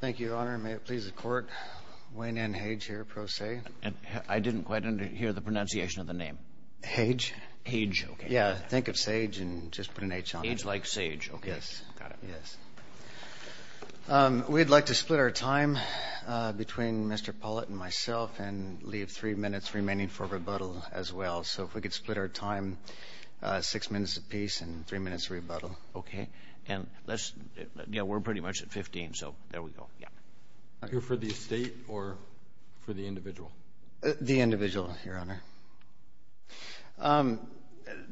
Thank you, Your Honor. May it please the Court. Wayne N. Hage here, pro se. I didn't quite hear the pronunciation of the name. Hage. Hage, okay. Yeah, think of sage and just put an H on it. Hage like sage, okay. Yes, yes. We'd like to split our time between Mr. Pollitt and myself and leave three minutes remaining for rebuttal as well. So if we could split our time six minutes apiece and three minutes remain, so there we go, yeah. Are you for the estate or for the individual? The individual, Your Honor. The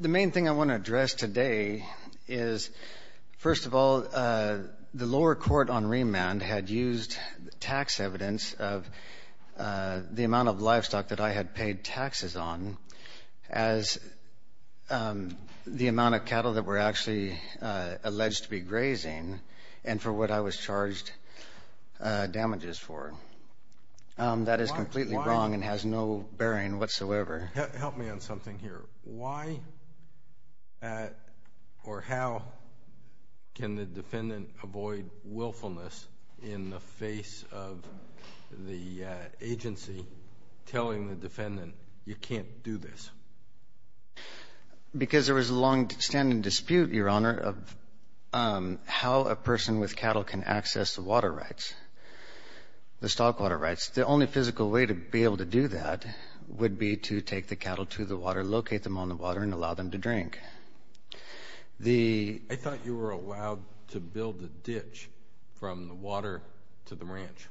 main thing I want to address today is, first of all, the lower court on remand had used tax evidence of the amount of livestock that I had paid taxes on as the amount of cattle that were actually alleged to be grazing and for what I was charged damages for. That is completely wrong and has no bearing whatsoever. Help me on something here. Why or how can the defendant avoid willfulness in the face of the agency telling the defendant, you can't do this? Because there was a longstanding dispute, Your Honor, of how a person with cattle can access the water rights, the stock water rights. The only physical way to be able to do that would be to take the cattle to the water, locate them on the water and allow them to drink. I thought you were allowed to build a ditch from the water to the ranch.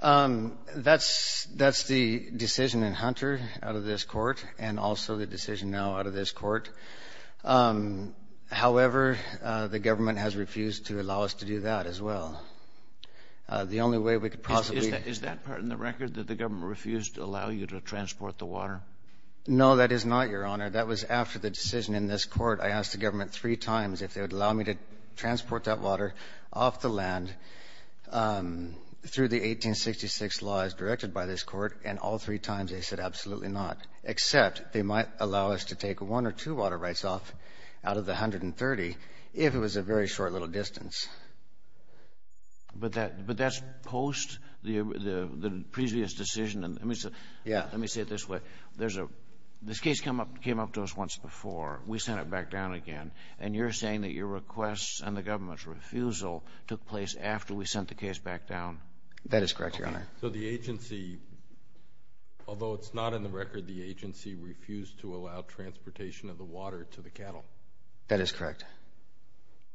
That's the decision in Hunter out of this court and also the decision now out of this court. However, the government has refused to allow us to do that as well. The only way we could possibly... Is that part in the record that the government refused to allow you to transport the water? No, that is not, Your Honor. That was after the decision in this court. I asked the government three times if they would allow me to transport that water off the land through the 1866 laws directed by this court and all three times they said absolutely not, except they might allow us to take one or two water rights off out of the 130 if it was a very short little distance. But that's post the previous decision. Let me say it this way. This case came up to us once before. We sent it back down again and you're saying that your requests and the government's refusal took place after we sent the case back down? That is correct, Your Honor. So the agency, although it's not in the record, the agency refused to allow transportation of the water to the cattle? That is correct.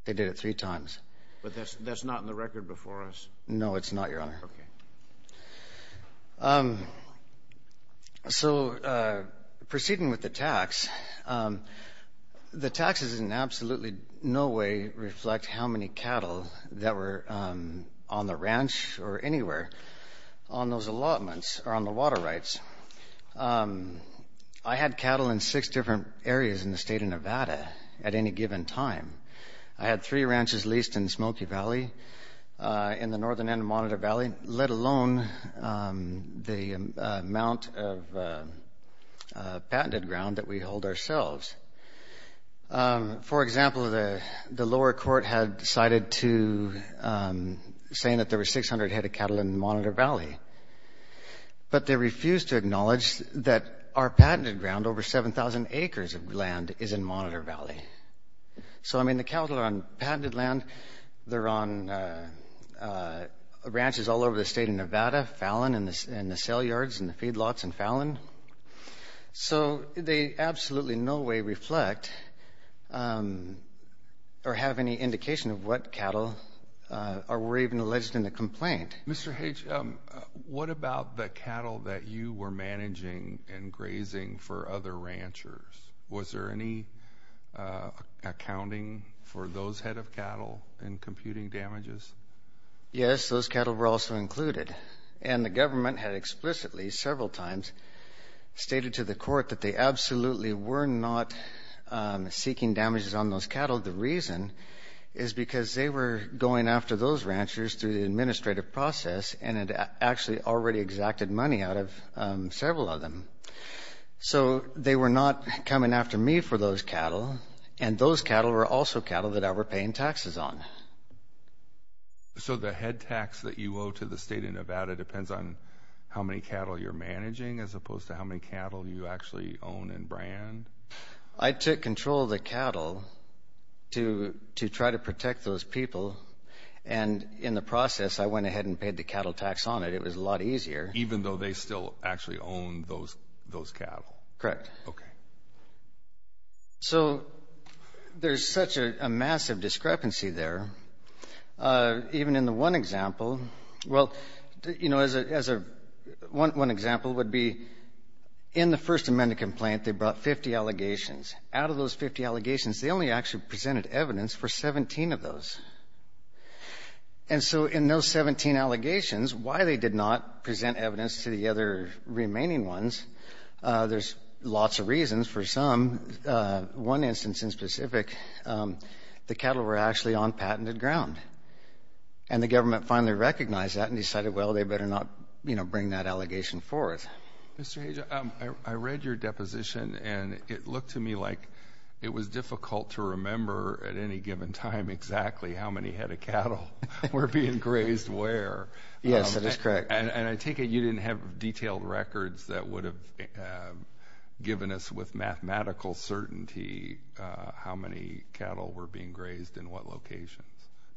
They did it three times. But that's not in the record before us? No, it's not, Your Honor. Okay. So proceeding with the tax, the taxes in absolutely no way reflect how many cattle that were on the ranch or anywhere on those allotments or on the water rights. I had cattle in six different areas in the state of Nevada at any given time. I had three ranches leased in Smoky Valley, in the northern end of Monitor Valley, let alone the amount of patented ground that we hold ourselves. For example, the lower court had decided to, saying that there were 600 head of cattle in Monitor Valley. But they refused to acknowledge that our patented ground, over 7,000 acres of land is in Monitor Valley. So, I mean, the cattle are on patented land. They're on ranches all over the state of Nevada, Fallon and the sale yards and the feedlots in Fallon. So they absolutely in no way reflect or have any indication of what cattle were even alleged in the complaint. Mr. Hage, what about the cattle that you were managing and grazing for other ranchers? Was there any accounting for those head of cattle in computing damages? Yes, those cattle were also included. And the government had explicitly several times stated to the court that they absolutely were not seeking damages on those cattle. The reason is because they were going after those ranchers through the administrative process and had actually already exacted money out of several of them. So they were not coming after me for those cattle. And those cattle were also cattle that I were paying taxes on. So the head tax that you owe to the state of Nevada depends on how many cattle you're managing as opposed to how many cattle you actually own and brand? I took control of the cattle to try to protect those people. And in the process, I went ahead and paid the cattle tax on it. It was a lot easier. Even though they still actually own those cattle? Correct. So there's such a massive discrepancy there. Even in the one example, well, you know, in the First Amendment complaint, they brought 50 allegations. Out of those 50 allegations, they only actually presented evidence for 17 of those. And so in those 17 allegations, why they did not present evidence to the other remaining ones, there's lots of reasons for some. One instance in specific, the cattle were actually on patented ground. And the government finally recognized that and decided, well, they better not, you know, bring that I read your deposition and it looked to me like it was difficult to remember at any given time exactly how many head of cattle were being grazed where. Yes, that is correct. And I take it you didn't have detailed records that would have given us with mathematical certainty how many cattle were being grazed in what locations?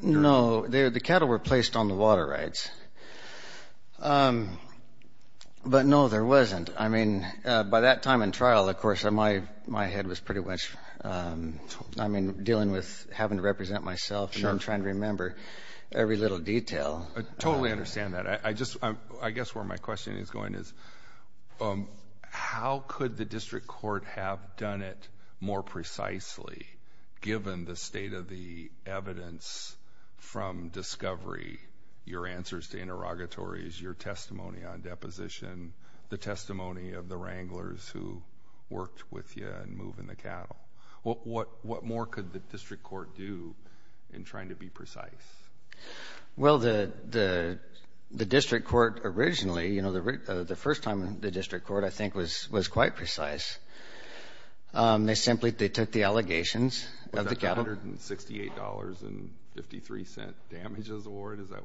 No, the cattle were placed on the water rights. But no, there wasn't. I mean, by that time in trial, of course, my head was pretty much, I mean, dealing with having to represent myself and trying to remember every little detail. I totally understand that. I just, I guess where my question is going is, how could the from discovery, your answers to interrogatories, your testimony on deposition, the testimony of the wranglers who worked with you and moving the cattle? What more could the district court do in trying to be precise? Well, the district court originally, you know, the first time the district court, I think was quite precise. They simply, they took the allegations of the cattle. Was that $168.53 damages award? Is that?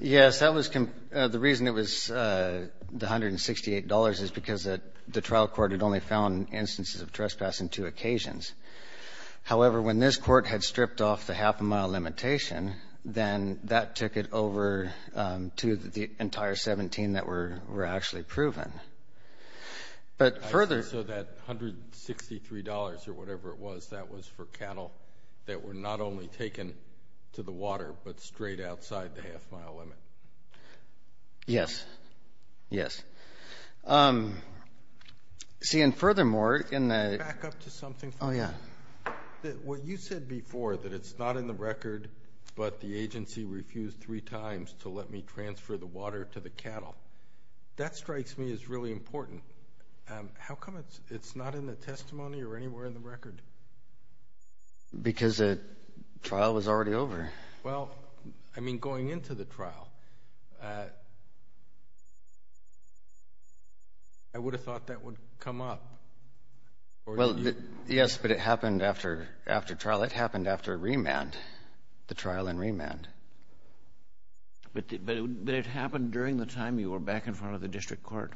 Yes, that was, the reason it was the $168 is because the trial court had only found instances of trespass on two occasions. However, when this court had stripped off the half a mile limitation, then that took it over to the entire 17 that were actually proven. So that $163 or whatever it was, that was for cattle that were not only taken to the water, but straight outside the half mile limit. Yes. Yes. See, and furthermore, in the Back up to something for me. Oh, yeah. What you said before that it's not in the record, but the agency refused three times to let me transfer the water to the cattle. That strikes me as really important. How come it's not in the testimony or anywhere in the record? Because the trial was already over. Well, I mean, going into the trial, I would have thought that would come up. Well, yes, but it happened after trial. It happened after remand, the trial and remand. But it happened during the time you were back in front of the district court?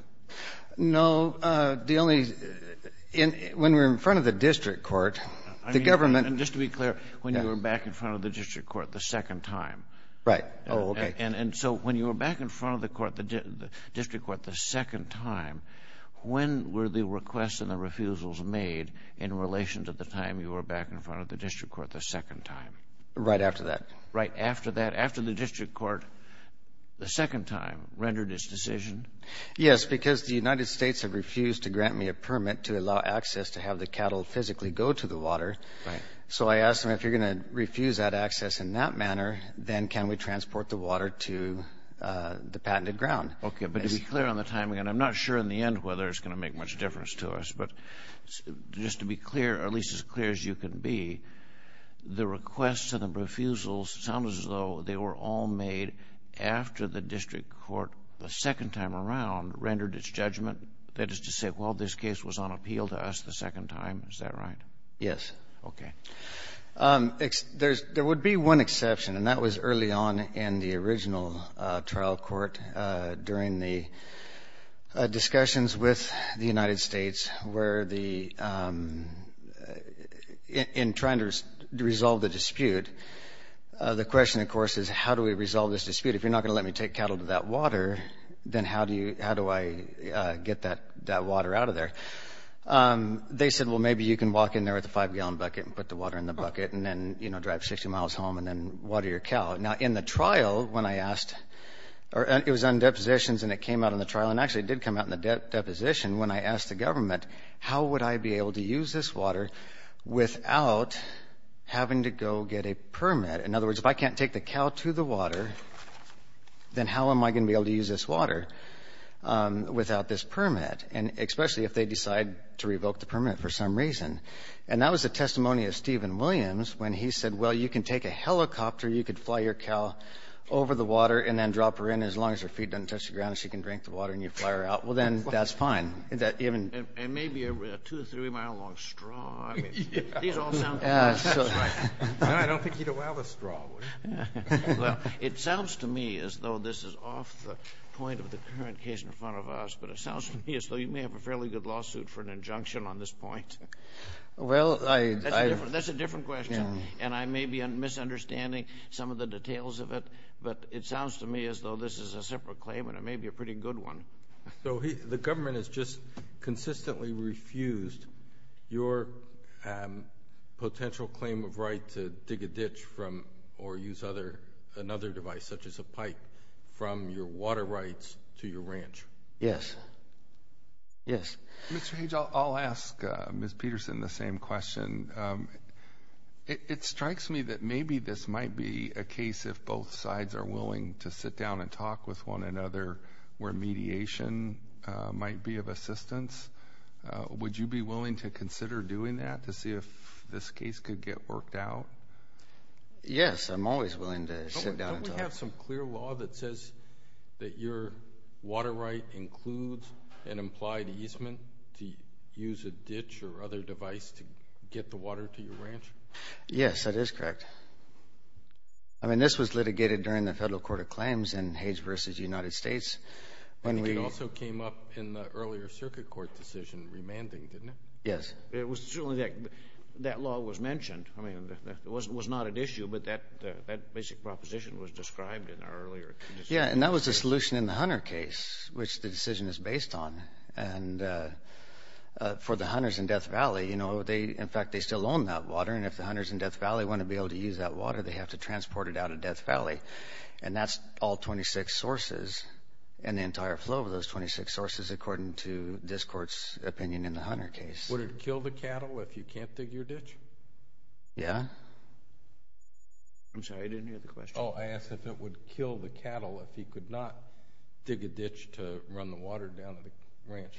No. The only, when we were in front of the district court, the government And just to be clear, when you were back in front of the district court the second time. Right. Oh, okay. And so when you were back in front of the court, the district court the second time, when were the requests and the refusals made in relation to the time you were back in front of the district court the second time? Right after that. Right after that. After the district court the second time rendered its decision? Yes, because the United States had refused to grant me a permit to allow access to have the cattle physically go to the water. Right. So I asked them, if you're going to refuse that access in that manner, then can we transport the water to the patented ground? Okay, but to be clear on the timing, and I'm not sure in the end whether it's going to make much difference to us, but just to be clear, or at least as clear as you can be, the requests and the refusals sound as though they were all made after the district court the second time around rendered its judgment? That is to say, well, this case was on appeal to us the second time, is that right? Yes. Okay. There would be one exception, and that was early on in the original trial court during the discussions with the United States where in trying to resolve the dispute, the question, of course, is how do we resolve this dispute? If you're not going to let me take cattle to that water, then how do I get that water out of there? They said, well, maybe you can walk in there with a five-gallon bucket and put the water in the bucket and then drive 60 miles home and then water your cow. Now, in the trial when I asked, it was on depositions and it came out in the trial, and actually it did come out in the deposition when I asked the government how would I be able to use this water without having to go get a permit? In other words, if I can't take the cow to the water, then how am I going to be able to use this water without this permit? And especially if they decide to revoke the permit for some reason. And that was the testimony of Stephen Williams when he said, well, you can take a helicopter, you could fly your cow over the water and then drop her in as long as her feet don't touch the ground and she can drink the water and you fly her out. Well, then that's fine. And maybe a two or three mile long straw. These all sound the same. No, I don't think you'd allow the straw, would you? Well, it sounds to me as though this is off the point of the current case in front of us, but it sounds to me as though you may have a fairly good lawsuit for an injunction on this point. That's a different question. And I may be misunderstanding some of the details of it, but it sounds to me as though this is a separate claim and it may be a pretty good one. So the government has just consistently refused your potential claim of right to dig a ditch or use another device such as a pipe from your water rights to your ranch. Yes. Yes. Mr. Hage, I'll ask Ms. Peterson the same question. It strikes me that maybe this might be a case if both sides are willing to sit down and talk with one another where mediation might be of assistance. Would you be willing to consider doing that to see if this case could get worked out? Yes, I'm always willing to sit down and talk. Don't we have some clear law that says that your water right includes an implied easement to use a ditch or other device to get the water to your ranch? Yes, that is correct. I mean, this was litigated during the Federal Court of Claims in Hage v. United States. I think it also came up in the earlier Circuit Court decision remanded, didn't it? Yes. That law was mentioned. I mean, it was not at issue, but that basic proposition was described in our earlier decision. Yes, and that was the solution in the Hunter case, which the decision is based on. And for the Hunters in Death Valley, you know, in fact, they still own that water, and if the Hunters in Death Valley want to be able to use that water, they have to transport it out of Death Valley. And that's all 26 sources and the entire flow of those 26 sources, according to this Court's opinion in the Hunter case. Would it kill the cattle if you can't dig your ditch? Yeah. I'm sorry, I didn't hear the question. Oh, I asked if it would kill the cattle if he could not dig a ditch to run the water down to the ranch.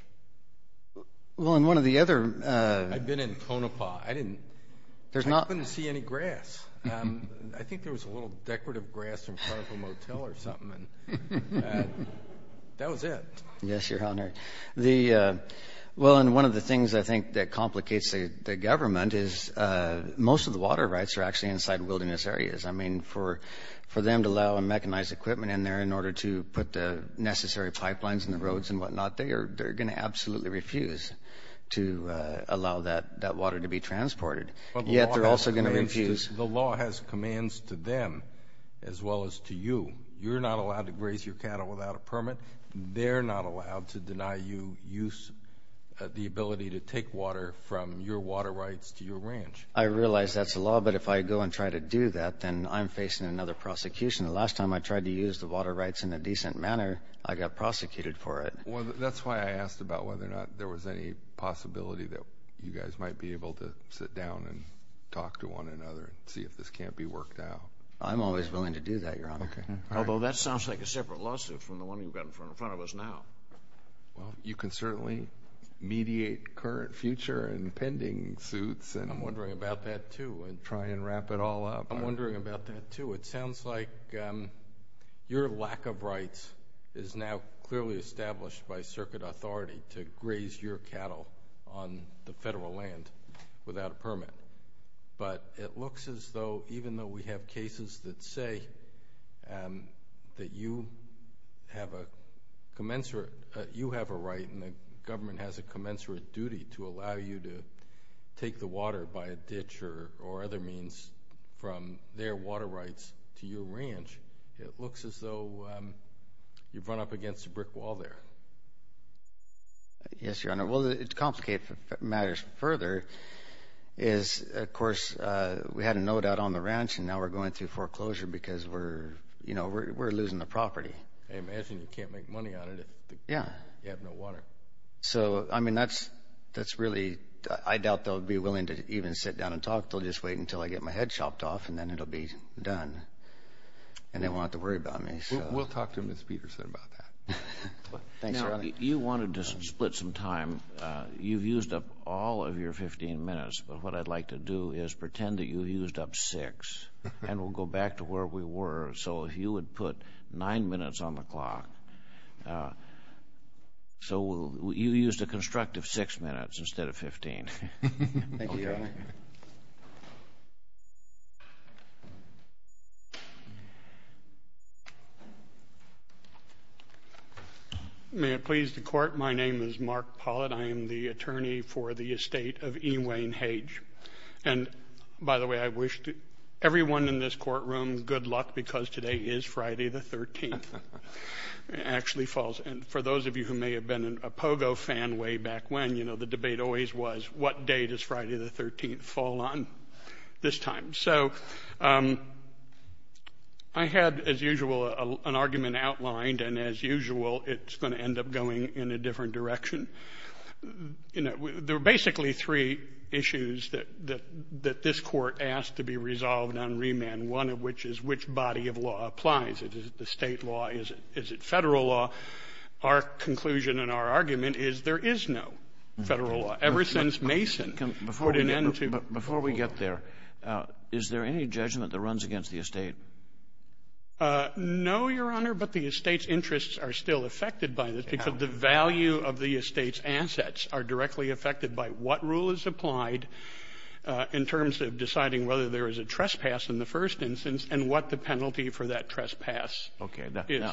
Well, in one of the other— I've been in Konopah. I didn't happen to see any grass. I think there was a little decorative grass in front of a motel or something, and that was it. Yes, Your Honor. Well, and one of the things I think that complicates the government is most of the water rights are actually inside wilderness areas. I mean, for them to allow and mechanize equipment in there in order to put the necessary pipelines and the roads and whatnot, they're going to absolutely refuse to allow that water to be transported. Yet they're also going to refuse— The law has commands to them as well as to you. You're not allowed to graze your cattle without a permit. They're not allowed to deny you the ability to take water from your water rights to your ranch. I realize that's the law, but if I go and try to do that, then I'm facing another prosecution. The last time I tried to use the water rights in a decent manner, I got prosecuted for it. Well, that's why I asked about whether or not there was any possibility that you guys might be able to sit down and talk to one another and see if this can't be worked out. I'm always willing to do that, Your Honor. Although that sounds like a separate lawsuit from the one you've got in front of us now. Well, you can certainly mediate current, future, and pending suits. I'm wondering about that, too, and try and wrap it all up. I'm wondering about that, too. It sounds like your lack of rights is now clearly established by circuit authority to graze your cattle on the federal land without a permit. But it looks as though even though we have cases that say that you have a right and the government has a commensurate duty to allow you to take the water by a ditch or other means from their water rights to your ranch, it looks as though you've run up against a brick wall there. Yes, Your Honor. Well, to complicate matters further is, of course, we had a no doubt on the ranch, and now we're going through foreclosure because we're losing the property. I imagine you can't make money on it if you have no water. I doubt they'll be willing to even sit down and talk. They'll just wait until I get my head chopped off, and then it'll be done. And they won't have to worry about me. We'll talk to Ms. Peterson about that. Thanks, Your Honor. You wanted to split some time. You've used up all of your 15 minutes, but what I'd like to do is pretend that you used up six, and we'll go back to where we were. So if you would put nine minutes on the clock. So you used a constructive six minutes instead of 15. Thank you, Your Honor. Thank you. May it please the Court, my name is Mark Pollitt. I am the attorney for the estate of E. Wayne Hage. And, by the way, I wish everyone in this courtroom good luck because today is Friday the 13th. It actually falls. And for those of you who may have been a Pogo fan way back when, you know, the debate always was, what date does Friday the 13th fall on this time? So I had, as usual, an argument outlined. And, as usual, it's going to end up going in a different direction. There are basically three issues that this Court asked to be resolved on remand, one of which is which body of law applies. Is it the state law? Is it federal law? Well, our conclusion and our argument is there is no federal law. Ever since Mason put an end to it. Before we get there, is there any judgment that runs against the estate? No, Your Honor, but the estate's interests are still affected by this because the value of the estate's assets are directly affected by what rule is applied in terms of deciding whether there is a trespass in the first instance and what the penalty for that trespass is. Okay.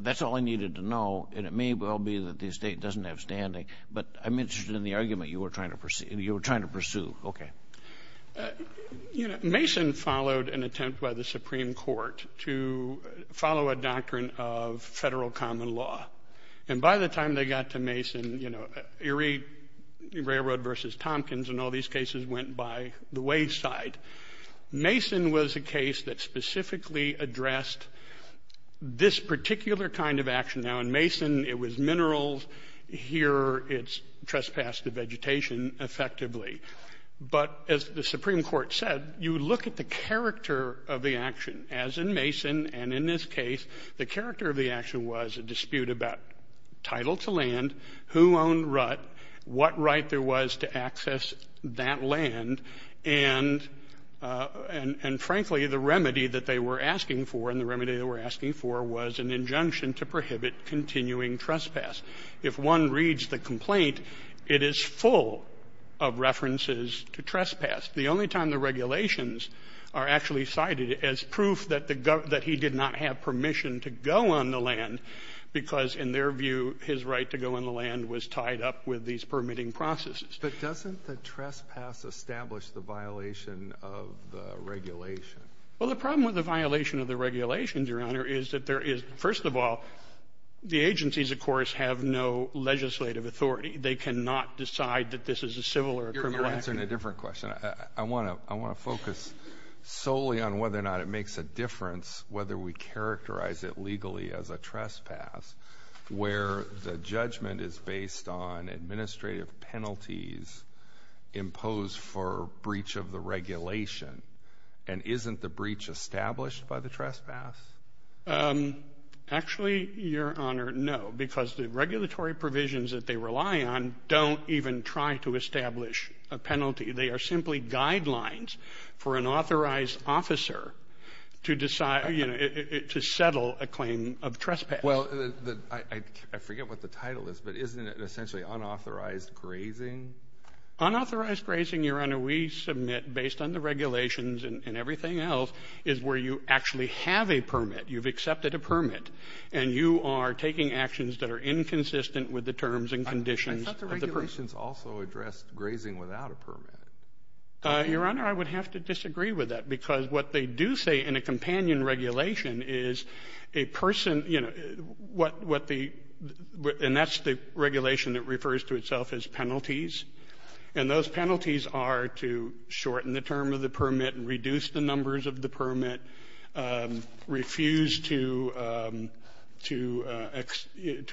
That's all I needed to know, and it may well be that the estate doesn't have standing, but I'm interested in the argument you were trying to pursue. Okay. Mason followed an attempt by the Supreme Court to follow a doctrine of federal common law. And by the time they got to Mason, you know, Erie Railroad versus Tompkins and all these cases went by the wayside. Mason was a case that specifically addressed this particular kind of action. Now, in Mason it was minerals. Here it's trespass to vegetation effectively. But as the Supreme Court said, you look at the character of the action, as in Mason, and in this case the character of the action was a dispute about title to land, who owned rut, what right there was to access that land, and, frankly, the remedy that they were asking for and the remedy they were asking for was an injunction to prohibit continuing trespass. If one reads the complaint, it is full of references to trespass. The only time the regulations are actually cited as proof that he did not have permission to go on the land because, in their view, his right to go on the land was tied up with these permitting processes. But doesn't the trespass establish the violation of the regulation? Well, the problem with the violation of the regulations, Your Honor, is that there is, first of all, the agencies, of course, have no legislative authority. They cannot decide that this is a civil or a criminal action. You're answering a different question. I want to focus solely on whether or not it makes a difference whether we characterize it legally as a trespass, where the judgment is based on administrative penalties imposed for breach of the regulation, and isn't the breach established by the trespass? Actually, Your Honor, no, because the regulatory provisions that they rely on don't even try to establish a penalty. They are simply guidelines for an authorized officer to settle a claim of trespass. Well, I forget what the title is, but isn't it essentially unauthorized grazing? Unauthorized grazing, Your Honor, we submit based on the regulations and everything else is where you actually have a permit, you've accepted a permit, and you are taking actions that are inconsistent with the terms and conditions of the permit. The regulations also address grazing without a permit. Your Honor, I would have to disagree with that because what they do say in a companion regulation is a person, and that's the regulation that refers to itself as penalties, and those penalties are to shorten the term of the permit and reduce the numbers of the permit, refuse to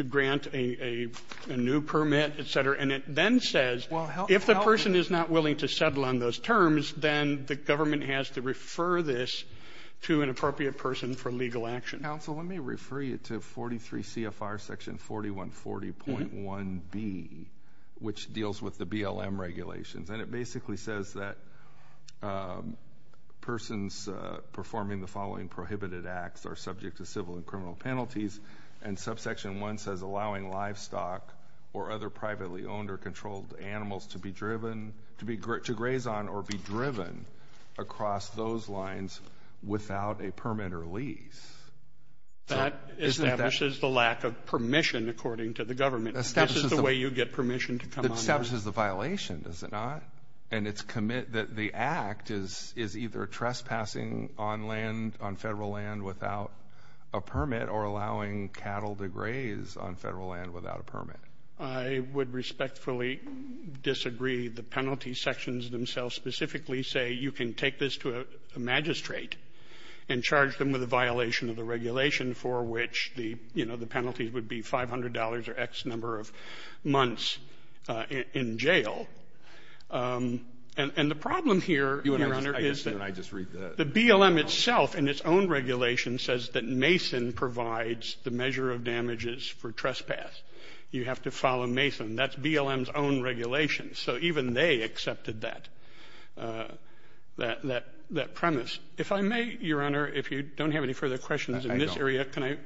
grant a new permit, et cetera. And it then says if the person is not willing to settle on those terms, then the government has to refer this to an appropriate person for legal action. Counsel, let me refer you to 43 CFR section 4140.1B, which deals with the BLM regulations, and it basically says that persons performing the following prohibited acts are subject to civil and criminal penalties, and subsection 1 says allowing livestock or other privately owned or controlled animals to be driven, to graze on or be driven across those lines without a permit or lease. That establishes the lack of permission, according to the government. It establishes the violation, does it not? And it's commit that the act is either trespassing on federal land without a permit or allowing cattle to graze on federal land without a permit. I would respectfully disagree. The penalty sections themselves specifically say you can take this to a magistrate and charge them with a violation of the regulation for which the penalty would be $500 or X number of months in jail. And the problem here, Your Honor, is that the BLM itself in its own regulation says that Mason provides the measure of damages for trespass. You have to follow Mason. That's BLM's own regulation. So even they accepted that premise. If I may, Your Honor, if you don't have any further questions in this area, can I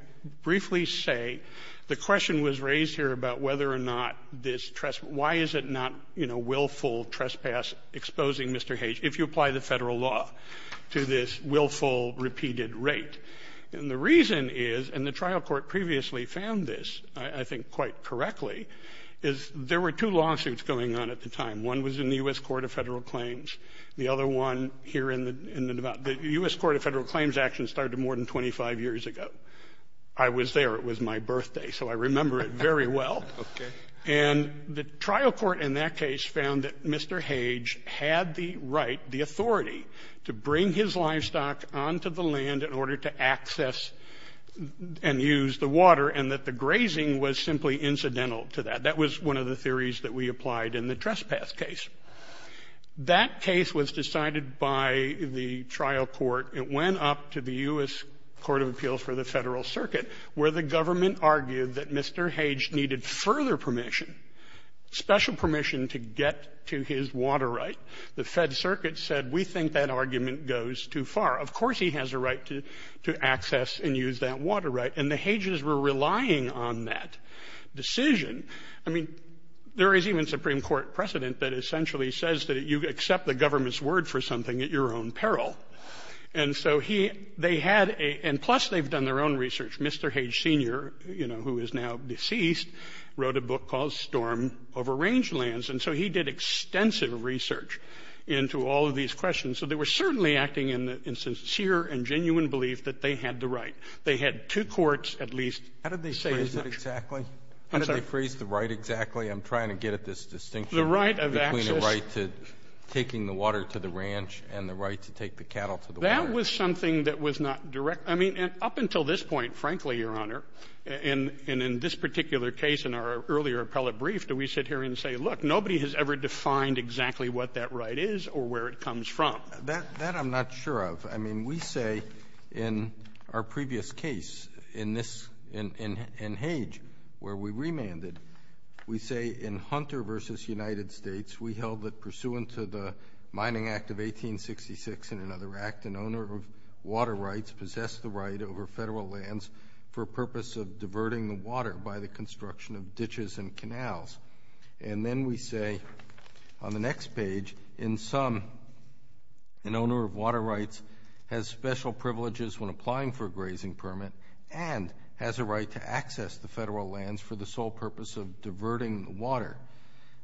briefly say the question was raised here about whether or not this trespass, why is it not, you know, willful trespass exposing Mr. Hage if you apply the federal law to this willful repeated rate? And the reason is, and the trial court previously found this, I think quite correctly, is there were two lawsuits going on at the time. One was in the U.S. Court of Federal Claims. The other one here in the Nevada. The U.S. Court of Federal Claims action started more than 25 years ago. I was there. It was my birthday. So I remember it very well. And the trial court in that case found that Mr. Hage had the right, the authority, to bring his livestock onto the land in order to access and use the water and that the grazing was simply incidental to that. That was one of the theories that we applied in the trespass case. That case was decided by the trial court. It went up to the U.S. Court of Appeals for the Federal Circuit, where the government argued that Mr. Hage needed further permission, special permission to get to his water right. The Fed Circuit said, we think that argument goes too far. Of course he has a right to access and use that water right. And the Hages were relying on that decision. I mean, there is even Supreme Court precedent that essentially says that you accept the government's word for something at your own peril. And so they had a – and plus they've done their own research. Mr. Hage Sr., you know, who is now deceased, wrote a book called Storm Over Rangelands. And so he did extensive research into all of these questions. So they were certainly acting in sincere and genuine belief that they had the right. They had two courts at least. How did they phrase it exactly? How did they phrase the right exactly? I'm trying to get at this distinction between the right to taking the water to the ranch and the right to take the cattle to the water. That was something that was not direct. I mean, up until this point, frankly, Your Honor, and in this particular case in our earlier appellate brief, do we sit here and say, look, nobody has ever defined exactly what that right is or where it comes from. That I'm not sure of. I mean, we say in our previous case in Hage where we remanded, we say in Hunter v. United States, we held that pursuant to the Mining Act of 1866 and another act, an owner of water rights possessed the right over federal lands for purpose of diverting the water by the construction of ditches and canals. And then we say on the next page, in sum an owner of water rights has special privileges when applying for a grazing permit and has a right to access the federal lands for the sole purpose of diverting the water.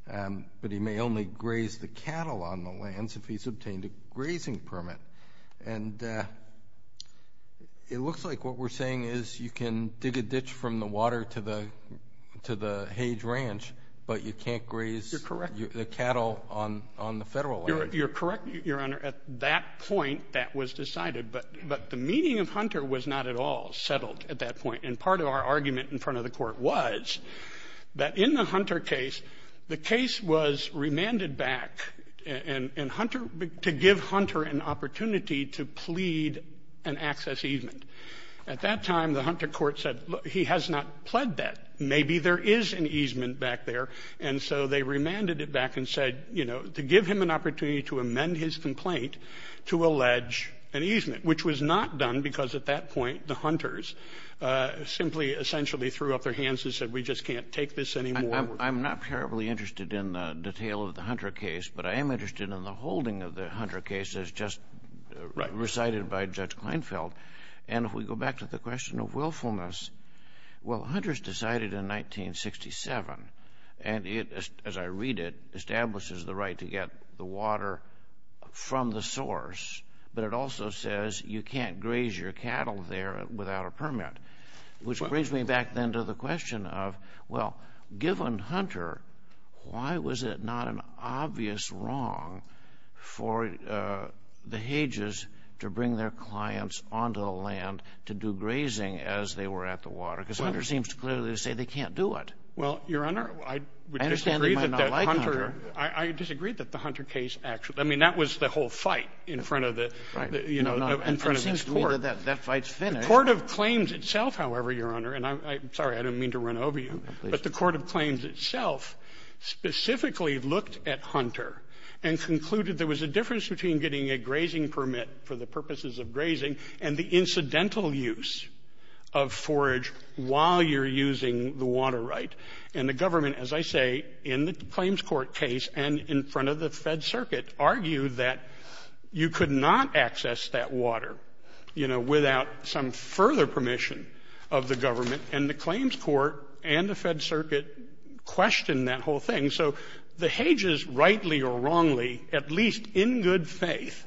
But he may only graze the cattle on the lands if he's obtained a grazing permit. And it looks like what we're saying is you can dig a ditch from the water to the Hage Ranch, but you can't graze the cattle on the federal land. You're correct, Your Honor. At that point, that was decided. But the meaning of Hunter was not at all settled at that point. And part of our argument in front of the Court was that in the Hunter case, the case was remanded back in Hunter to give Hunter an opportunity to plead an access easement. At that time, the Hunter court said, look, he has not pled that. Maybe there is an easement back there. And so they remanded it back and said, you know, to give him an opportunity to amend his complaint to allege an easement, which was not done because at that point the Hunters simply essentially threw up their hands and said, we just can't take this anymore. I'm not terribly interested in the detail of the Hunter case, but I am interested in the holding of the Hunter case as just recited by Judge Kleinfeld. And if we go back to the question of willfulness, well, Hunter's decided in 1967, and it, as I read it, establishes the right to get the water from the source. But it also says you can't graze your cattle there without a permit, which brings me back then to the question of, well, given Hunter, why was it not an obvious wrong for the Hages to bring their clients onto the land to do grazing as they were at the water? Because Hunter seems to clearly say they can't do it. Well, Your Honor, I would disagree that that Hunter – I understand they might not like Hunter. I disagree that the Hunter case actually – I mean, that was the whole fight in front of the – Right. You know, in front of the court. It seems to me that that fight's finished. The court of claims itself, however, Your Honor – and I'm sorry, I didn't mean to run over you – but the court of claims itself specifically looked at Hunter and concluded there was a difference between getting a grazing permit for the purposes of grazing and the incidental use of forage while you're using the water right. And the government, as I say, in the claims court case and in front of the Fed Circuit, argued that you could not access that water, you know, without some further permission of the government. And the claims court and the Fed Circuit questioned that whole thing. So the Hages rightly or wrongly, at least in good faith,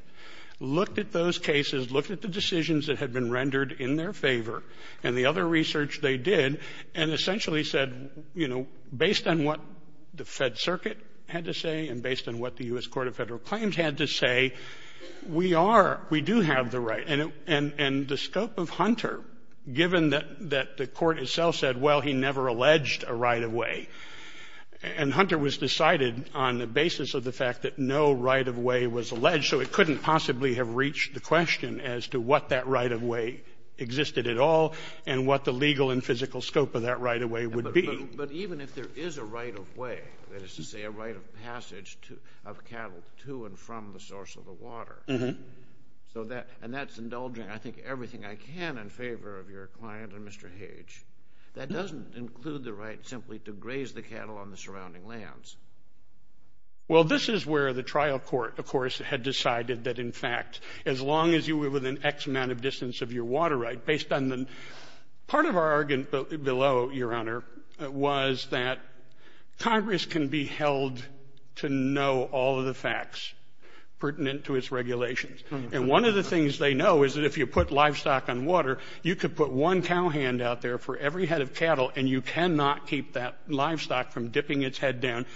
looked at those cases, looked at the decisions that had been rendered in their favor and the other research they did and essentially said, you know, based on what the Fed Circuit had to say and based on what the U.S. Court of Federal Claims had to say, we are, we do have the right. And the scope of Hunter, given that the court itself said, well, he never alleged a right-of-way, and Hunter was decided on the basis of the fact that no right-of-way was alleged, so it couldn't possibly have reached the question as to what that right-of-way existed at all and what the legal and physical scope of that right-of-way would be. But even if there is a right-of-way, that is to say a right of passage of cattle to and from the source of the water, and that's indulging, I think, everything I can in favor of your client and Mr. Hage, that doesn't include the right simply to graze the cattle on the surrounding lands. Well, this is where the trial court, of course, had decided that, in fact, as long as you were within X amount of distance of your water right, based on the, part of our argument below, Your Honor, was that Congress can be held to know all of the facts pertinent to its regulations. And one of the things they know is that if you put livestock on water, you could put one cow hand out there for every head of cattle, and you cannot keep that livestock from dipping its head down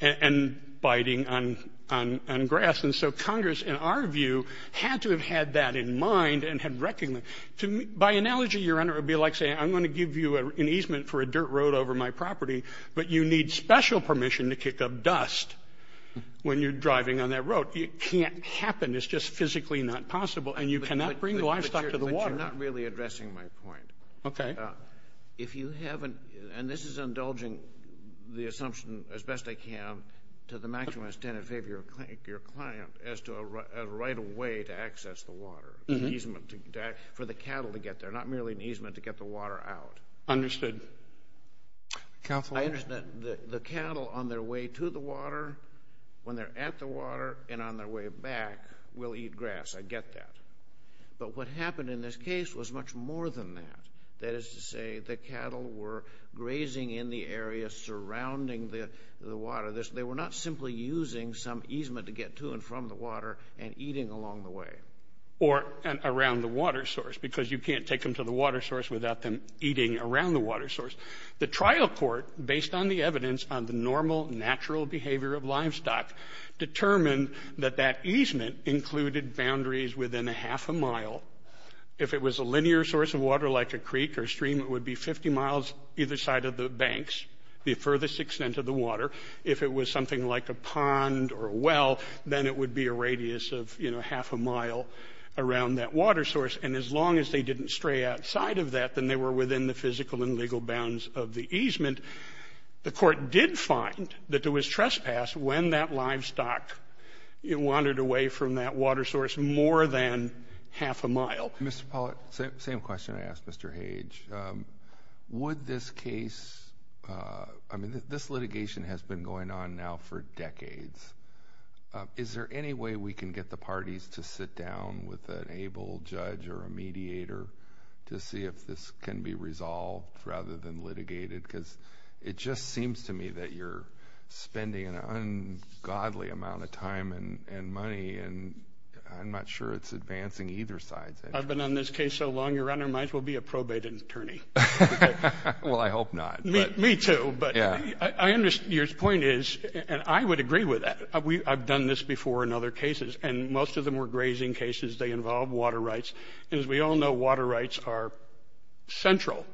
and biting on grass. And so Congress, in our view, had to have had that in mind and had recognized. By analogy, Your Honor, it would be like saying I'm going to give you an easement for a dirt road over my property, but you need special permission to kick up dust when you're driving on that road. It can't happen. It's just physically not possible, and you cannot bring livestock to the water. But you're not really addressing my point. Okay. If you haven't, and this is indulging the assumption as best I can to the maximum extent in favor of your client as to a right of way to access the water, an easement for the cattle to get there, not merely an easement to get the water out. Understood. Counsel? I understand. The cattle on their way to the water, when they're at the water and on their way back, will eat grass. I get that. But what happened in this case was much more than that. That is to say the cattle were grazing in the area surrounding the water. They were not simply using some easement to get to and from the water and eating along the way. Or around the water source, because you can't take them to the water source without them eating around the water source. The trial court, based on the evidence on the normal, natural behavior of livestock, determined that that easement included boundaries within a half a mile. If it was a linear source of water like a creek or stream, it would be 50 miles either side of the banks, the furthest extent of the water. If it was something like a pond or a well, then it would be a radius of half a mile around that water source. And as long as they didn't stray outside of that, then they were within the physical and legal bounds of the easement. The court did find that there was trespass when that livestock wandered away from that water source more than half a mile. Mr. Pollack, same question I asked Mr. Hage. Would this case, I mean, this litigation has been going on now for decades. Is there any way we can get the parties to sit down with an able judge or a mediator to see if this can be resolved rather than litigated? Because it just seems to me that you're spending an ungodly amount of time and money, and I'm not sure it's advancing either side. I've been on this case so long, your Honor, might as well be a probate attorney. Well, I hope not. Me too, but I understand. Your point is, and I would agree with that. I've done this before in other cases, and most of them were grazing cases. They involve water rights. And as we all know, water rights are central.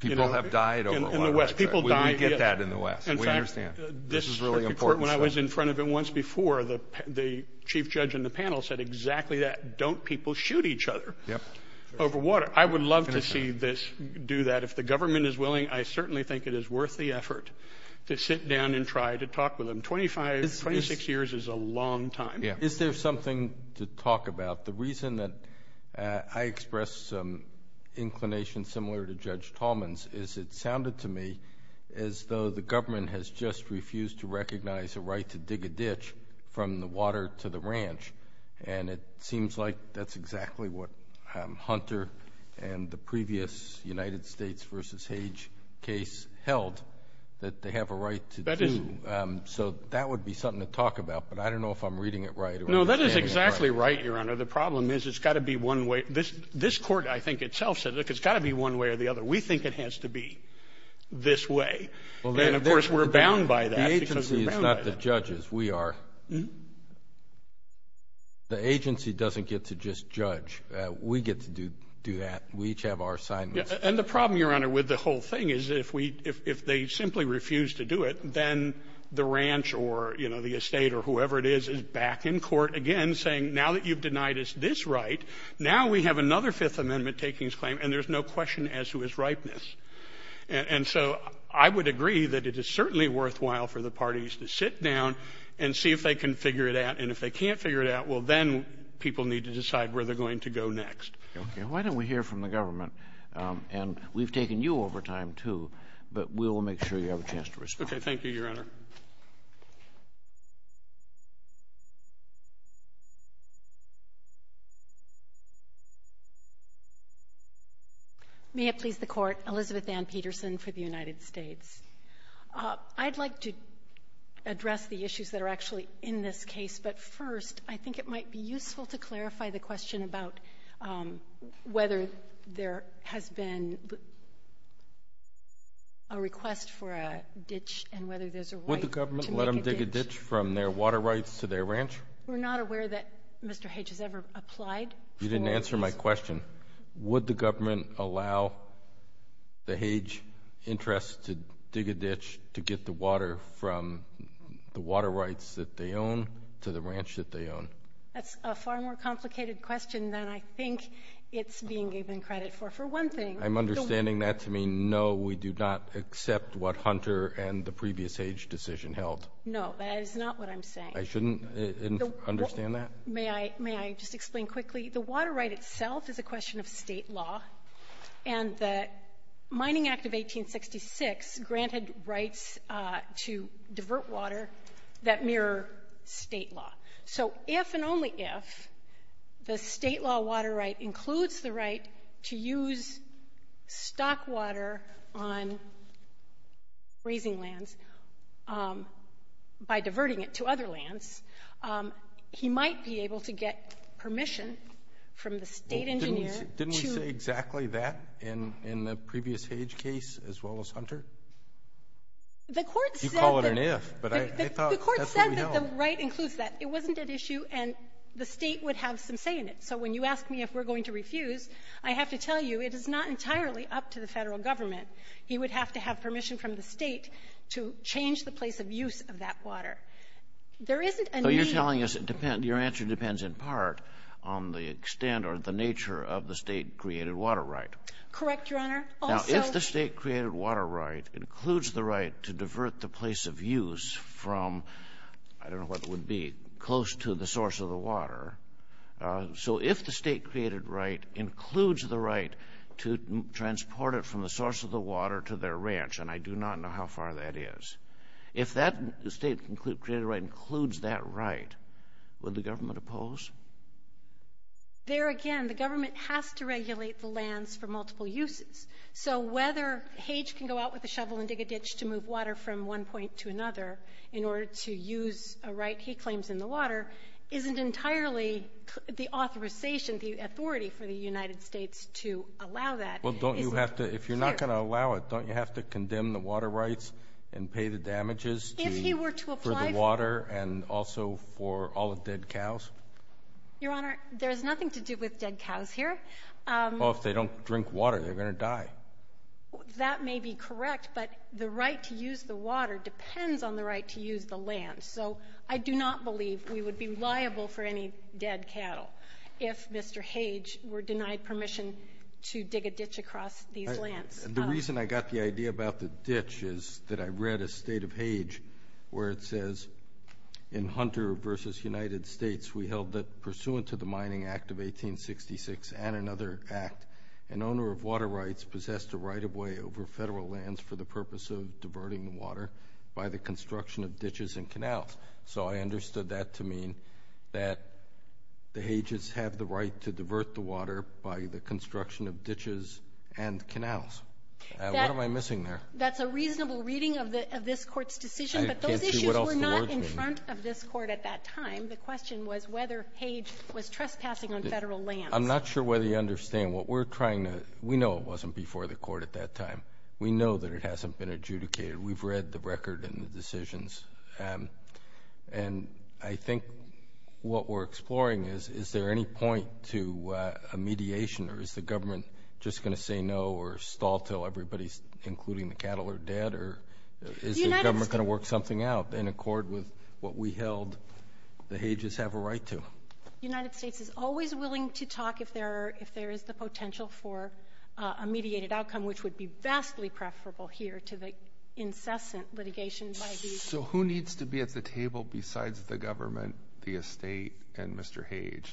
People have died over water rights. We get that in the West. We understand. This is really important. When I was in front of him once before, the chief judge in the panel said exactly that. Don't people shoot each other over water? I would love to see this do that. If the government is willing, I certainly think it is worth the effort to sit down and try to talk with them. Twenty-six years is a long time. Is there something to talk about? The reason that I expressed some inclination similar to Judge Tallman's is it sounded to me as though the government has just refused to recognize a right to dig a ditch from the water to the ranch. And it seems like that's exactly what Hunter and the previous United States v. Hage case held, that they have a right to do. So that would be something to talk about. But I don't know if I'm reading it right. No, that is exactly right, Your Honor. The problem is it's got to be one way. This court, I think, itself said, look, it's got to be one way or the other. We think it has to be this way. And, of course, we're bound by that. The agency is not the judges. We are. The agency doesn't get to just judge. We get to do that. We each have our assignments. And the problem, Your Honor, with the whole thing is if they simply refuse to do it, then the ranch or, you know, the estate or whoever it is is back in court again saying, now that you've denied us this right, now we have another Fifth Amendment takings claim, and there's no question as to its ripeness. And so I would agree that it is certainly worthwhile for the parties to sit down and see if they can figure it out. And if they can't figure it out, well, then people need to decide where they're going to go next. Okay. Why don't we hear from the government? And we've taken you over time, too, but we'll make sure you have a chance to respond. Okay. May it please the Court. Elizabeth Ann Peterson for the United States. I'd like to address the issues that are actually in this case, but first I think it might be useful to clarify the question about whether there has been a request for a ditch and whether there's a right to make a ditch. Would the government let them dig a ditch from their water rights to their ranch? We're not aware that Mr. H has ever applied. You didn't answer my question. Would the government allow the Hague interests to dig a ditch to get the water from the water rights that they own to the ranch that they own? That's a far more complicated question than I think it's being given credit for. For one thing, the water rights. I'm understanding that to mean no, we do not accept what Hunter and the previous Hague decision held. No, that is not what I'm saying. I shouldn't understand that? May I just explain quickly? The water right itself is a question of state law, and the Mining Act of 1866 granted rights to divert water that mirror state law. So if and only if the state law water right includes the right to use stock water on grazing lands by diverting it to other lands, he might be able to get permission from the state engineer. Didn't we say exactly that in the previous Hague case as well as Hunter? You call it an if, but I thought that's what we held. The court said that the right includes that. It wasn't at issue, and the state would have some say in it. So when you ask me if we're going to refuse, I have to tell you it is not entirely up to the federal government. He would have to have permission from the state to change the place of use of that water. So you're telling us your answer depends in part on the extent or the nature of the state-created water right? Correct, Your Honor. Now, if the state-created water right includes the right to divert the place of use from, I don't know what it would be, close to the source of the water, so if the state-created right includes the right to transport it from the source of the water to their ranch, and I do not know how far that is, if that state-created right includes that right, would the government oppose? There again, the government has to regulate the lands for multiple uses. So whether Hague can go out with a shovel and dig a ditch to move water from one point to another in order to use a right he claims in the water isn't entirely the authorization, the authority for the United States to allow that. Well, don't you have to, if you're not going to allow it, don't you have to condemn the water rights and pay the damages for the water and also for all the dead cows? Your Honor, there's nothing to do with dead cows here. Well, if they don't drink water, they're going to die. That may be correct, but the right to use the water depends on the right to use the land. So I do not believe we would be liable for any dead cattle if Mr. Hague were denied permission to dig a ditch across these lands. The reason I got the idea about the ditch is that I read a state of Hague where it says in Hunter v. United States, we held that pursuant to the Mining Act of 1866 and another act, an owner of water rights possessed a right of way over federal lands for the purpose of diverting the water by the construction of ditches and canals. So I understood that to mean that the Hagues have the right to divert the water by the construction of ditches and canals. What am I missing there? That's a reasonable reading of this Court's decision, but those issues were not in front of this Court at that time. The question was whether Hague was trespassing on federal lands. I'm not sure whether you understand what we're trying to – we know it wasn't before the Court at that time. We know that it hasn't been adjudicated. We've read the record and the decisions. I think what we're exploring is, is there any point to a mediation or is the government just going to say no or stall until everybody, including the cattle, are dead, or is the government going to work something out in accord with what we held the Hagues have a right to? The United States is always willing to talk if there is the potential for a mediated outcome, which would be vastly preferable here to the incessant litigation by the – So who needs to be at the table besides the government, the estate, and Mr. Hague?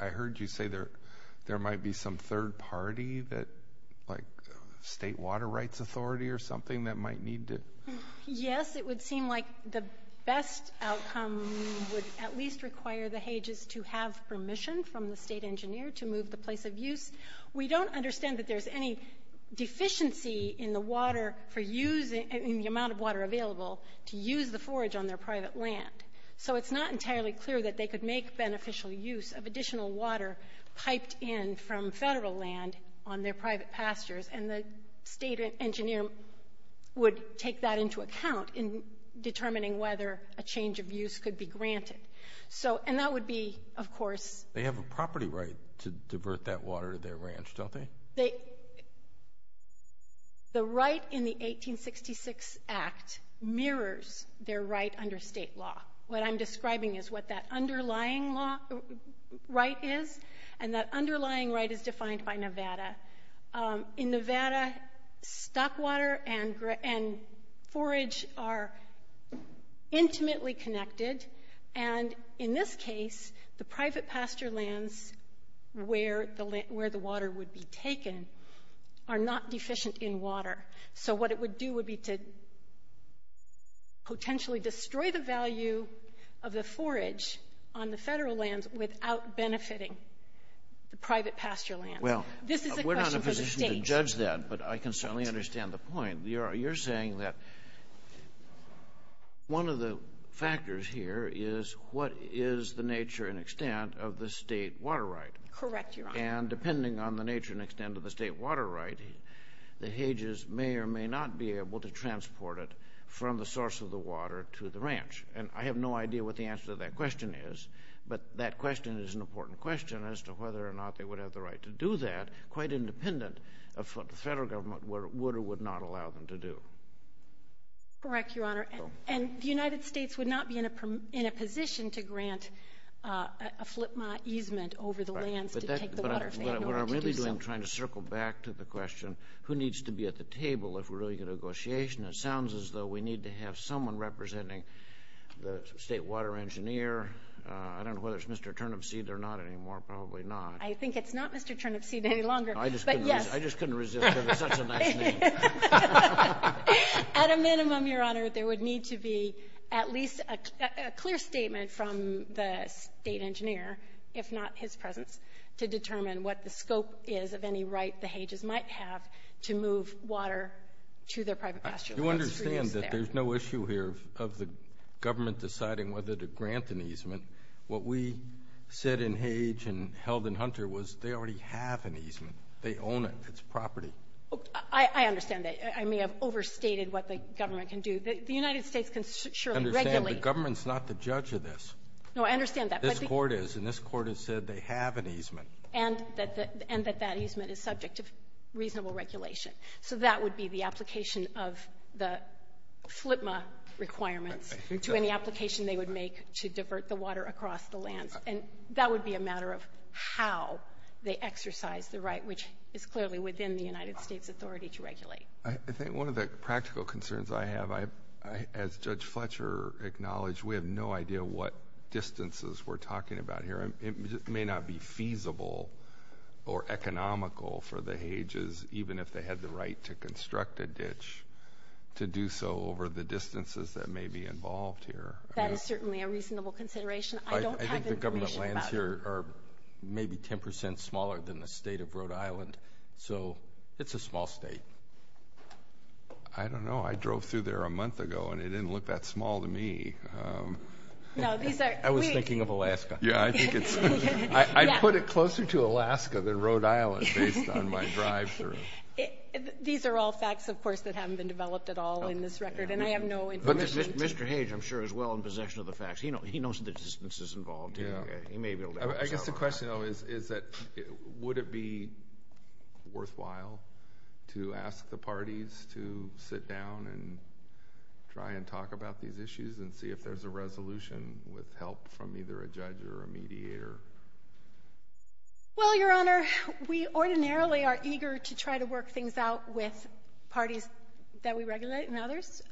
I heard you say there might be some third party, like State Water Rights Authority or something, that might need to – Yes, it would seem like the best outcome would at least require the Hagues to have permission from the state engineer to move the place of use. We don't understand that there's any deficiency in the amount of water available to use the forage on their private land. So it's not entirely clear that they could make beneficial use of additional water piped in from federal land on their private pastures, and the state engineer would take that into account in determining whether a change of use could be granted. And that would be, of course – They have a property right to divert that water to their ranch, don't they? The right in the 1866 Act mirrors their right under state law. What I'm describing is what that underlying right is, and that underlying right is defined by Nevada. In Nevada, stock water and forage are intimately connected, and in this case, the private pasture lands where the water would be taken are not deficient in water. So what it would do would be to potentially destroy the value of the forage on the federal lands without benefiting the private pasture lands. This is a question for the state. Well, we're not in a position to judge that, but I can certainly understand the point. You're saying that one of the factors here is what is the nature and extent of the state water right. Correct, Your Honor. And depending on the nature and extent of the state water right, the Hages may or may not be able to transport it from the source of the water to the ranch. And I have no idea what the answer to that question is, but that question is an important question as to whether or not they would have the right to do that of what the federal government would or would not allow them to do. Correct, Your Honor. And the United States would not be in a position to grant a FLIPMA easement over the lands to take the water in order to do so. But what I'm really doing is trying to circle back to the question, who needs to be at the table if we're going to get a negotiation? It sounds as though we need to have someone representing the state water engineer. I don't know whether it's Mr. Turnipseed or not anymore. Probably not. I think it's not Mr. Turnipseed any longer. I just couldn't resist it. It's such a nice name. At a minimum, Your Honor, there would need to be at least a clear statement from the state engineer, if not his presence, to determine what the scope is of any right the Hages might have to move water to their private pasture. You understand that there's no issue here of the government deciding whether to grant an easement. What we said in Hage and held in Hunter was they already have an easement. They own it. It's property. I understand that. I may have overstated what the government can do. The United States can surely regulate. I understand. The government's not the judge of this. No, I understand that. This Court is, and this Court has said they have an easement. And that that easement is subject to reasonable regulation. So that would be the application of the FLIPMA requirements to any application they would make to divert the water across the lands. And that would be a matter of how they exercise the right, which is clearly within the United States' authority to regulate. I think one of the practical concerns I have, as Judge Fletcher acknowledged, we have no idea what distances we're talking about here. It may not be feasible or economical for the Hages, even if they had the right to construct a ditch, to do so over the distances that may be involved here. That is certainly a reasonable consideration. I don't have information about that. I think the government lands here are maybe 10% smaller than the state of Rhode Island. So it's a small state. I don't know. I drove through there a month ago, and it didn't look that small to me. No, these are. I was thinking of Alaska. Yeah, I think it's. I'd put it closer to Alaska than Rhode Island based on my drive through. These are all facts, of course, that haven't been developed at all in this record, and I have no information. But Mr. Hage, I'm sure, is well in possession of the facts. He knows the distances involved here. He may be able to answer that. I guess the question, though, is that would it be worthwhile to ask the parties to sit down and try and talk about these issues and see if there's a resolution with help from either a judge or a mediator? Well, Your Honor, we ordinarily are eager to try to work things out with parties that we regulate and others.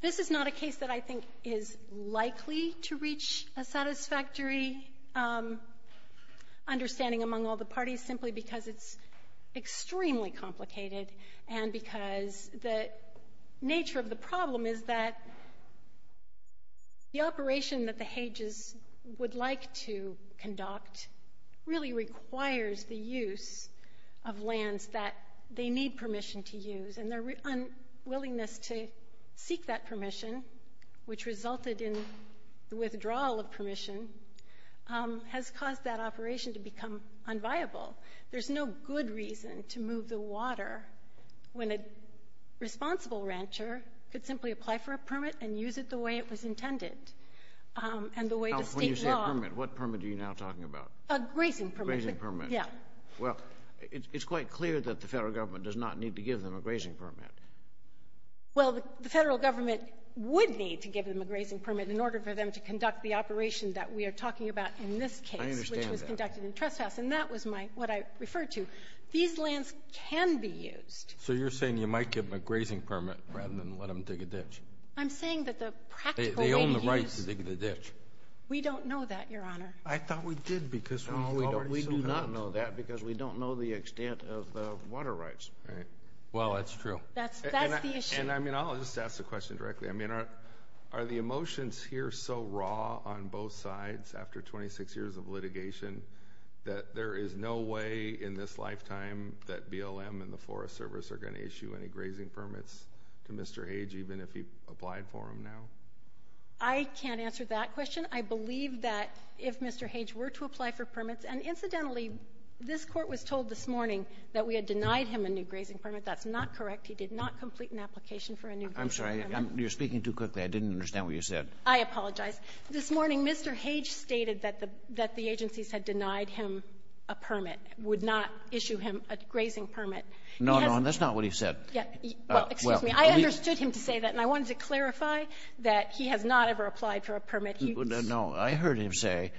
This is not a case that I think is likely to reach a satisfactory understanding among all the parties simply because it's extremely complicated and because the nature of the problem is that the operation that the Hages would like to conduct really requires the use of lands that they need permission to use, and their unwillingness to seek that permission, which resulted in the withdrawal of permission, has caused that operation to become unviable. There's no good reason to move the water when a responsible rancher could simply apply for a permit and use it the way it was intended and the way the state law... When you say a permit, what permit are you now talking about? A grazing permit. A grazing permit. Yeah. Well, it's quite clear that the federal government does not need to give them a grazing permit. Well, the federal government would need to give them a grazing permit in order for them to conduct the operation that we are talking about in this case... I understand that. ...which was conducted in Tresthaus, and that was what I referred to. These lands can be used. So you're saying you might give them a grazing permit rather than let them dig a ditch. I'm saying that the practical way to use... They own the rights to dig the ditch. We don't know that, Your Honor. I thought we did because we thought it was so conductive. No, we do not know that because we don't know the extent of the water rights. Right. Well, that's true. That's the issue. And, I mean, I'll just ask the question directly. I mean, are the emotions here so raw on both sides after 26 years of litigation that there is no way in this lifetime that BLM and the Forest Service are going to issue any grazing permits to Mr. Hage even if he applied for them now? I can't answer that question. I believe that if Mr. Hage were to apply for permits, and incidentally this court was told this morning that we had denied him a new grazing permit. That's not correct. He did not complete an application for a new grazing permit. I'm sorry. You're speaking too quickly. I didn't understand what you said. I apologize. This morning Mr. Hage stated that the agencies had denied him a permit, would not issue him a grazing permit. No, no, and that's not what he said. Well, excuse me. I understood him to say that, and I wanted to clarify that he has not ever applied for a permit. No, I heard him say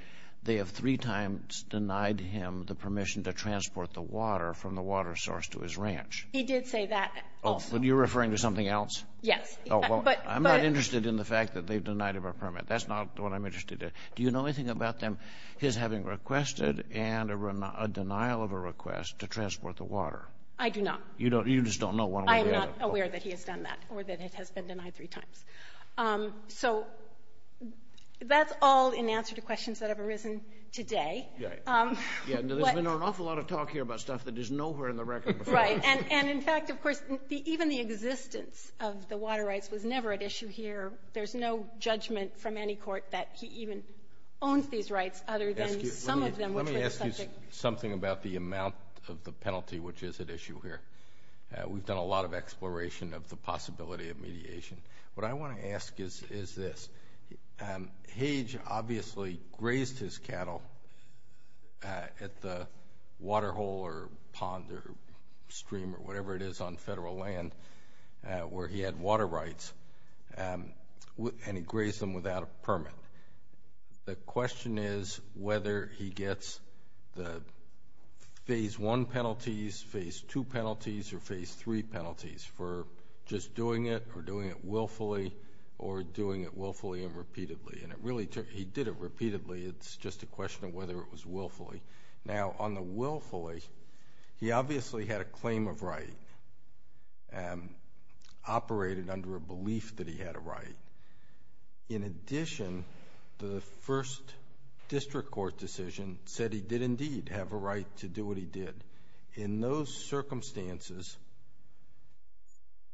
they have three times denied him the permission to transport the water from the water source to his ranch. He did say that also. Oh, but you're referring to something else? Yes. Oh, well, I'm not interested in the fact that they've denied him a permit. That's not what I'm interested in. Do you know anything about them, his having requested and a denial of a request to transport the water? I do not. You just don't know one way or the other? I am not aware that he has done that or that it has been denied three times. So that's all in answer to questions that have arisen today. Yeah, there's been an awful lot of talk here about stuff that is nowhere in the record before. Right, and in fact, of course, even the existence of the water rights was never at issue here. There's no judgment from any court that he even owns these rights other than some of them. Let me ask you something about the amount of the penalty which is at issue here. We've done a lot of exploration of the possibility of mediation. What I want to ask is this. Hage obviously grazed his cattle at the water hole or pond or stream or whatever it is on federal land where he had water rights, and he grazed them without a permit. The question is whether he gets the Phase I penalties, Phase II penalties, or Phase III penalties for just doing it or doing it willfully or doing it willfully and repeatedly. He did it repeatedly. It's just a question of whether it was willfully. Now, on the willfully, he obviously had a claim of right, operated under a belief that he had a right. In addition, the first district court decision said he did indeed have a right to do what he did. In those circumstances,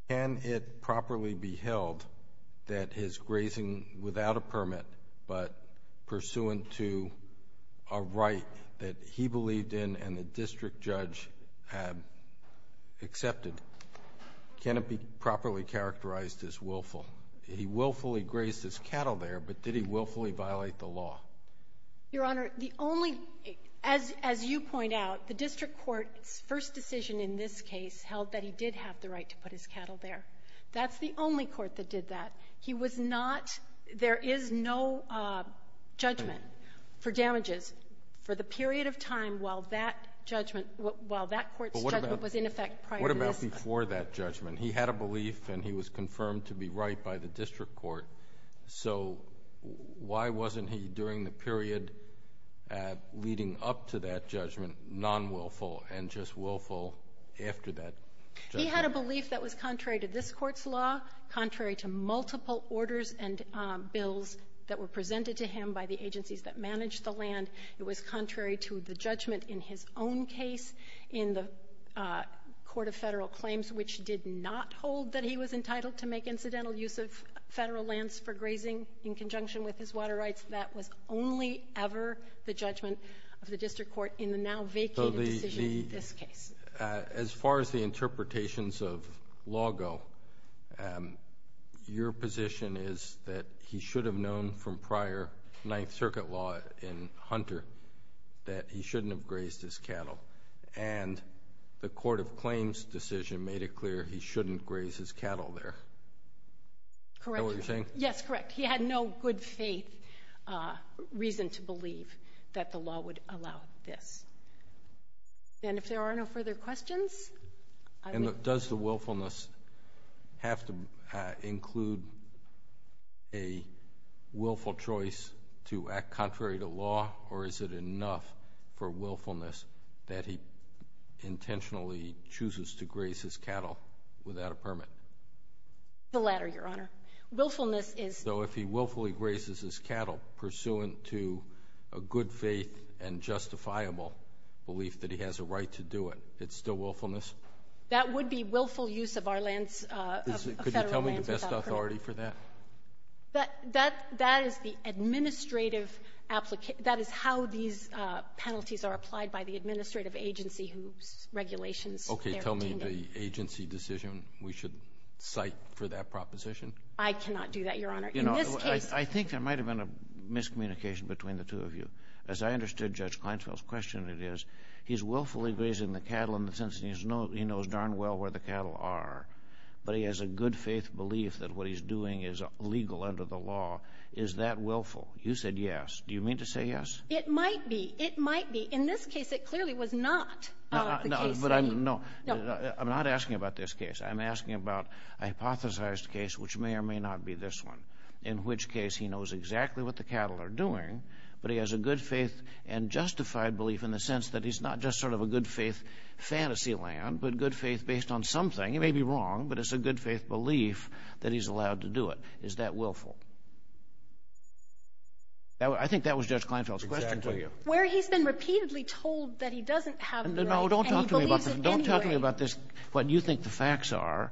can it properly be held that his grazing without a permit but pursuant to a right that he believed in and the district judge had accepted? Can it be properly characterized as willful? He willfully grazed his cattle there, but did he willfully violate the law? Your Honor, the only—as you point out, the district court's first decision in this case held that he did have the right to put his cattle there. That's the only court that did that. He was not—there is no judgment for damages for the period of time while that judgment, while that court's judgment was in effect prior to this. What about before that judgment? He had a belief and he was confirmed to be right by the district court, so why wasn't he, during the period leading up to that judgment, non-willful and just willful after that judgment? He had a belief that was contrary to this court's law, contrary to multiple orders and bills that were presented to him by the agencies that managed the land. It was contrary to the judgment in his own case in the Court of Federal Claims, which did not hold that he was entitled to make incidental use of federal lands for grazing in conjunction with his water rights. That was only ever the judgment of the district court in the now vacated decision in this case. As far as the interpretations of law go, your position is that he should have known from prior Ninth Circuit law in Hunter that he shouldn't have grazed his cattle, and the Court of Claims decision made it clear he shouldn't graze his cattle there. Correct. Is that what you're saying? Yes, correct. He had no good faith reason to believe that the law would allow this. If there are no further questions? Does the willfulness have to include a willful choice to act contrary to law, or is it enough for willfulness that he intentionally chooses to graze his cattle without a permit? The latter, Your Honor. So if he willfully grazes his cattle pursuant to a good faith and justifiable belief that he has a right to do it, it's still willfulness? That would be willful use of federal lands without a permit. Could you tell me the best authority for that? That is how these penalties are applied by the administrative agency whose regulations they're obtaining. Okay. Tell me the agency decision we should cite for that proposition. I cannot do that, Your Honor. I think there might have been a miscommunication between the two of you. As I understood Judge Kleinfeld's question, it is he's willfully grazing the cattle in the sense that he knows darn well where the cattle are, but he has a good faith belief that what he's doing is legal under the law. Is that willful? You said yes. Do you mean to say yes? It might be. It might be. In this case, it clearly was not the case. No. I'm not asking about this case. I'm asking about a hypothesized case, which may or may not be this one, in which case he knows exactly what the cattle are doing, but he has a good faith and justified belief in the sense that he's not just sort of a good faith fantasy land, but good faith based on something. He may be wrong, but it's a good faith belief that he's allowed to do it. Is that willful? I think that was Judge Kleinfeld's question to you. Exactly. Where he's been repeatedly told that he doesn't have the right and he believes it anyway. Don't talk to me about this, what you think the facts are,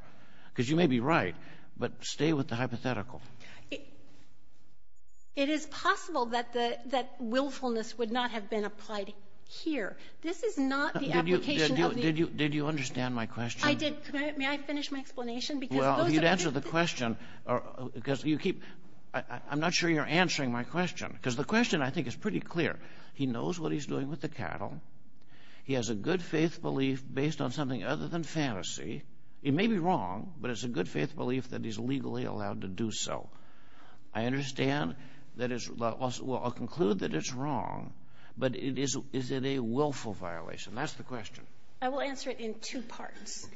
because you may be right, but stay with the hypothetical. It is possible that willfulness would not have been applied here. This is not the application of the... Did you understand my question? I did. May I finish my explanation? Well, if you'd answer the question, because you keep... I'm not sure you're answering my question, because the question, I think, is pretty clear. He knows what he's doing with the cattle. He has a good faith belief based on something other than fantasy. He may be wrong, but it's a good faith belief that he's legally allowed to do so. I understand that it's... Well, I'll conclude that it's wrong, but is it a willful violation? That's the question. I will answer it in two parts.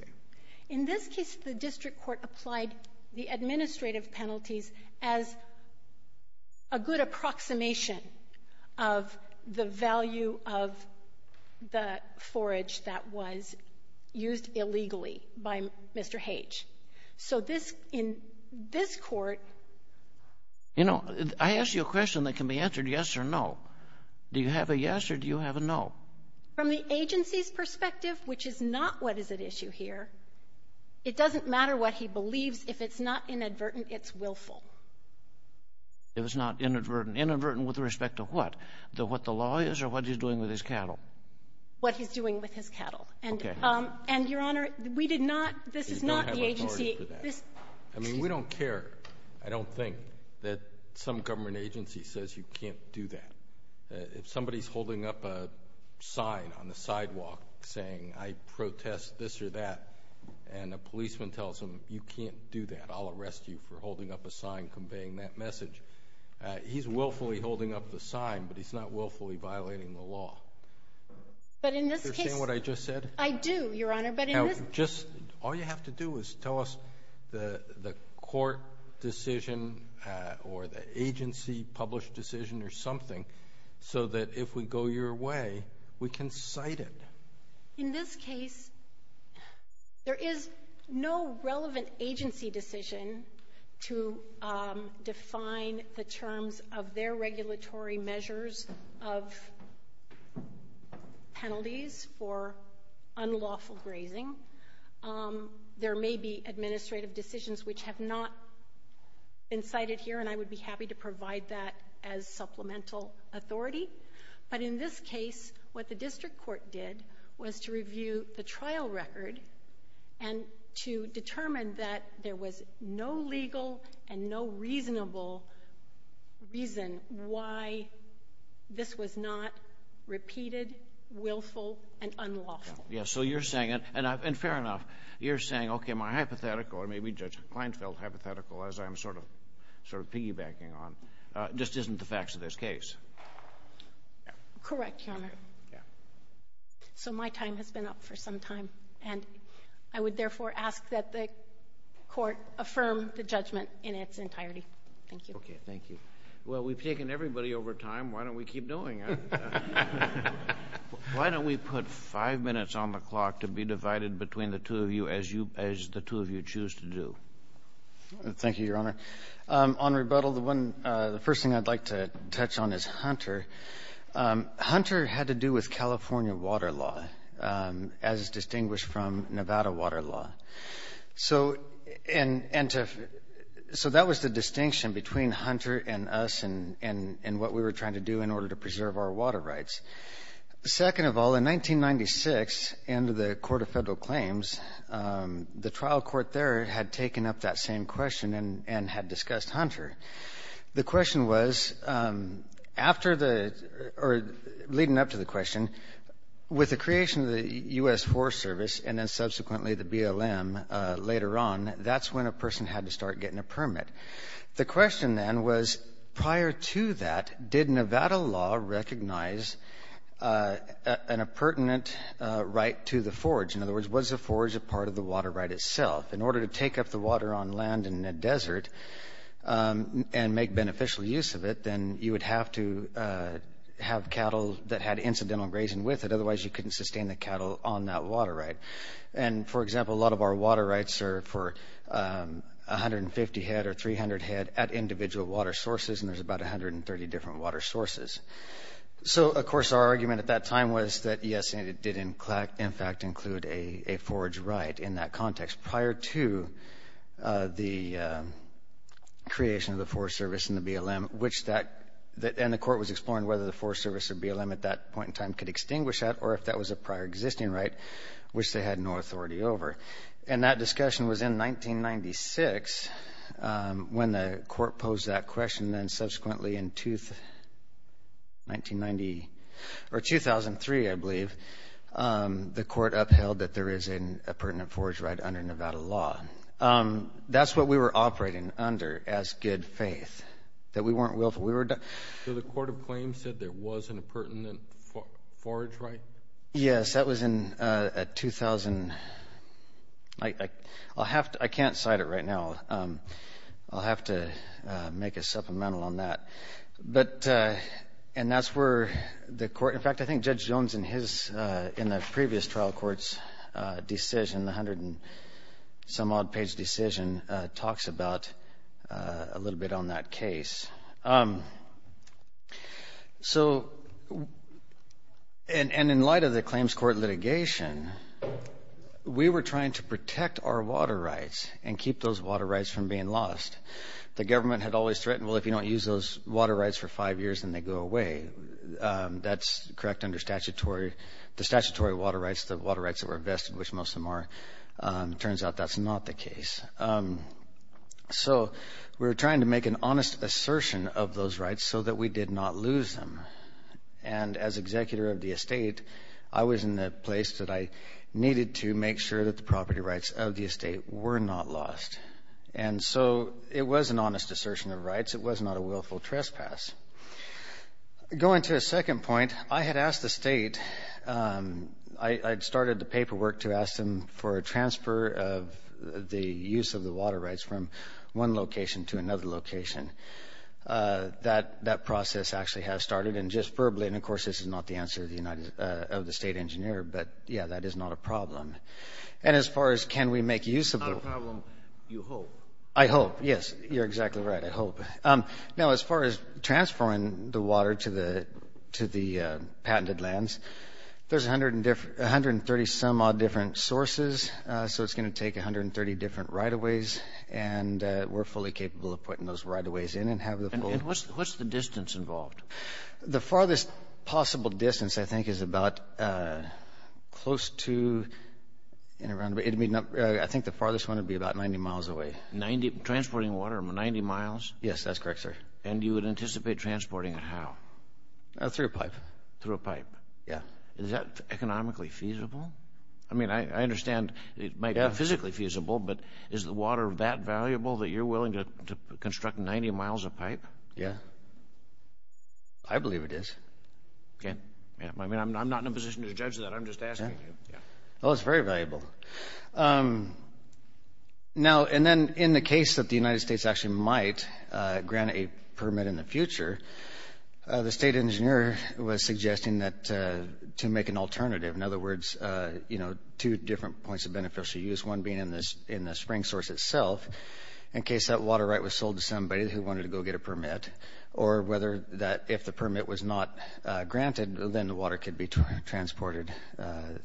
In this case, the district court applied the administrative penalties as a good approximation of the value of the forage that was used illegally by Mr. H. So in this court... You know, I asked you a question that can be answered yes or no. Do you have a yes or do you have a no? From the agency's perspective, which is not what is at issue here, it doesn't matter what he believes if it's not inadvertent, it's willful. If it's not inadvertent. Inadvertent with respect to what? What the law is or what he's doing with his cattle? What he's doing with his cattle. Okay. And, Your Honor, we did not... You don't have authority for that. I mean, we don't care. I don't think that some government agency says you can't do that. If somebody's holding up a sign on the sidewalk saying, I protest this or that, and a policeman tells them you can't do that, I'll arrest you for holding up a sign conveying that message, he's willfully holding up the sign, but he's not willfully violating the law. But in this case... Do you understand what I just said? I do, Your Honor, but in this... Now, just... All you have to do is tell us the court decision or the agency published decision or something so that if we go your way, we can cite it. In this case, there is no relevant agency decision to define the terms of their regulatory measures of penalties for unlawful grazing. There may be administrative decisions which have not been cited here, and I would be happy to provide that as supplemental authority. But in this case, what the district court did was to review the trial record and to determine that there was no legal and no reasonable reason why this was not repeated, willful, and unlawful. Yes, so you're saying... And fair enough, you're saying, okay, am I hypothetical, or maybe Judge Kleinfeld is hypothetical, as I'm sort of piggybacking on. It just isn't the facts of this case. Correct, Your Honor. So my time has been up for some time, and I would therefore ask that the court affirm the judgment in its entirety. Thank you. Okay, thank you. Well, we've taken everybody over time. Why don't we keep doing it? Why don't we put five minutes on the clock to be divided between the two of you as the two of you choose to do? Thank you, Your Honor. On rebuttal, the first thing I'd like to touch on is Hunter. Hunter had to do with California water law, as distinguished from Nevada water law. So that was the distinction between Hunter and us and what we were trying to do in order to preserve our water rights. Second of all, in 1996, under the Court of Federal Claims, the trial court there had taken up that same question and had discussed Hunter. The question was, leading up to the question, with the creation of the U.S. Forest Service and then subsequently the BLM later on, that's when a person had to start getting a permit. The question then was, prior to that, did Nevada law recognize an appurtenant right to the forage? In other words, was the forage a part of the water right itself? In order to take up the water on land in a desert and make beneficial use of it, then you would have to have cattle that had incidental grazing with it. Otherwise, you couldn't sustain the cattle on that water right. And, for example, a lot of our water rights are for 150 head or 300 head at individual water sources, and there's about 130 different water sources. So, of course, our argument at that time was that, yes, it did in fact include a forage right in that context prior to the creation of the Forest Service and the BLM, and the court was exploring whether the Forest Service or BLM at that point in time could extinguish that or if that was a prior existing right, which they had no authority over. And that discussion was in 1996 when the court posed that question, and then subsequently in 2003, I believe, the court upheld that there is an appurtenant forage right under Nevada law. That's what we were operating under as good faith, that we weren't willful. So the court of claims said there was an appurtenant forage right? Yes, that was in 2000. I can't cite it right now. I'll have to make a supplemental on that. And that's where the court, in fact, I think Judge Jones in the previous trial court's decision, the 100-and-some-odd-page decision, talks about a little bit on that case. So, and in light of the claims court litigation, we were trying to protect our water rights and keep those water rights from being lost. The government had always threatened, well, if you don't use those water rights for five years, then they go away. That's correct under the statutory water rights, the water rights that were vested, which most of them are. Turns out that's not the case. So we were trying to make an honest assertion of those rights so that we did not lose them. And as executor of the estate, I was in the place that I needed to make sure that the property rights of the estate were not lost. And so it was an honest assertion of rights. It was not a willful trespass. Going to a second point, I had asked the state, I had started the paperwork to ask them for a transfer of the use of the water rights from one location to another location. That process actually has started. And just verbally, and of course, this is not the answer of the state engineer, but, yeah, that is not a problem. And as far as can we make use of the... Not a problem, you hope. I hope, yes, you're exactly right, I hope. No, as far as transferring the water to the patented lands, there's 130-some-odd different sources, so it's going to take 130 different right-of-ways, and we're fully capable of putting those right-of-ways in. And what's the distance involved? The farthest possible distance, I think, is about close to... I think the farthest one would be about 90 miles away. Transporting water, 90 miles? Yes, that's correct, sir. And you would anticipate transporting it how? Through a pipe. Through a pipe? Yeah. Is that economically feasible? I mean, I understand it might be physically feasible, but is the water that valuable that you're willing to construct 90 miles of pipe? Yeah. I believe it is. Okay. I mean, I'm not in a position to judge that. I'm just asking you. Oh, it's very valuable. Now, and then in the case that the United States actually might grant a permit in the future, the state engineer was suggesting that to make an alternative, in other words, you know, two different points of beneficial use, one being in the spring source itself, in case that water right was sold to somebody who wanted to go get a permit, or whether that if the permit was not granted, then the water could be transported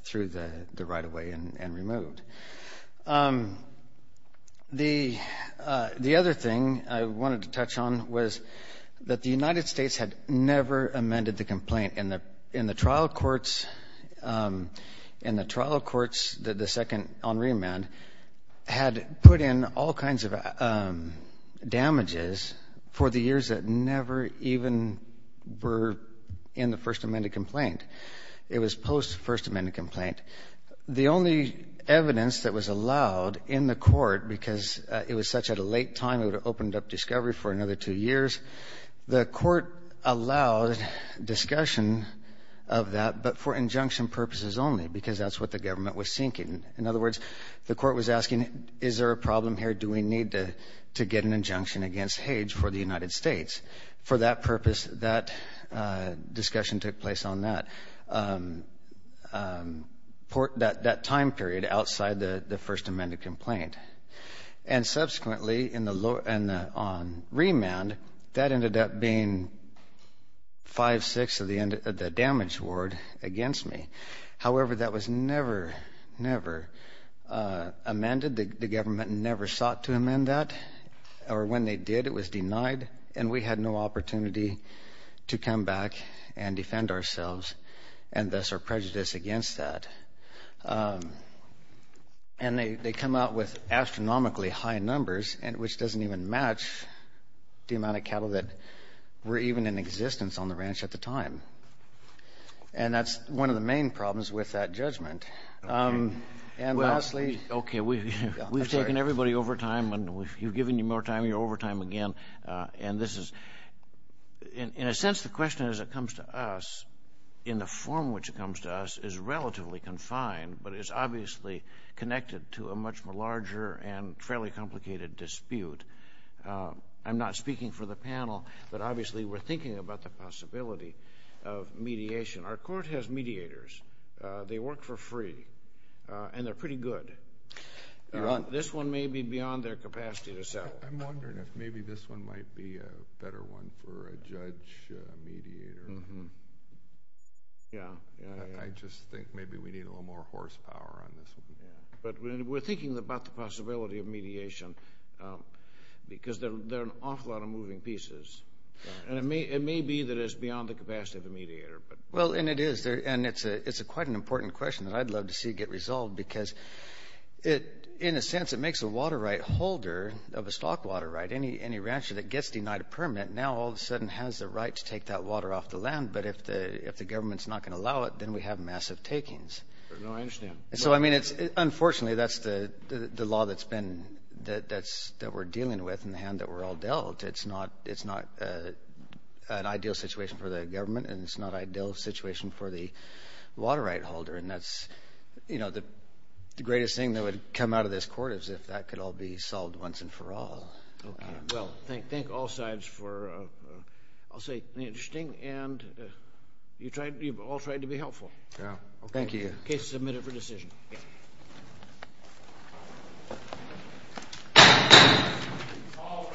through the right-of-way and removed. The other thing I wanted to touch on was that the United States had never amended the complaint in the trial courts. In the trial courts, the second on remand, had put in all kinds of damages for the years that never even were in the first amended complaint. It was post-first amended complaint. The only evidence that was allowed in the court, because it was such at a late time, it would have opened up discovery for another two years, the court allowed discussion of that, but for injunction purposes only, because that's what the government was seeking. In other words, the court was asking, is there a problem here? Do we need to get an injunction against Hage for the United States? For that purpose, that discussion took place on that, that time period outside the first amended complaint. And subsequently, on remand, that ended up being 5-6 of the damage award against me. However, that was never, never amended. The government never sought to amend that, or when they did, it was denied, and we had no opportunity to come back and defend ourselves, and thus our prejudice against that. And they come out with astronomically high numbers, which doesn't even match the amount of cattle that were even in existence on the ranch at the time. And that's one of the main problems with that judgment. And lastly... Okay, we've taken everybody over time, and we've given you more time. You're over time again, and this is... In a sense, the question as it comes to us, in the form in which it comes to us, is relatively confined, but it's obviously connected to a much larger and fairly complicated dispute. I'm not speaking for the panel, but obviously we're thinking about the possibility of mediation. Our court has mediators. They work for free, and they're pretty good. This one may be beyond their capacity to settle. I'm wondering if maybe this one might be a better one for a judge mediator. Yeah. I just think maybe we need a little more horsepower on this one. But we're thinking about the possibility of mediation because there are an awful lot of moving pieces, and it may be that it's beyond the capacity of the mediator. Well, and it is, and it's quite an important question that I'd love to see get resolved because in a sense it makes a water right holder of a stock water right. Any rancher that gets denied a permit now all of a sudden has the right to take that water off the land, but if the government's not going to allow it, then we have massive takings. No, I understand. Unfortunately, that's the law that we're dealing with and the hand that we're all dealt. It's not an ideal situation for the government, and it's not an ideal situation for the water right holder. And that's the greatest thing that would come out of this court is if that could all be solved once and for all. Okay. Well, thank all sides for, I'll say, interesting, and you've all tried to be helpful. Yeah. Thank you. Okay, submit it for decision. Okay. All rise.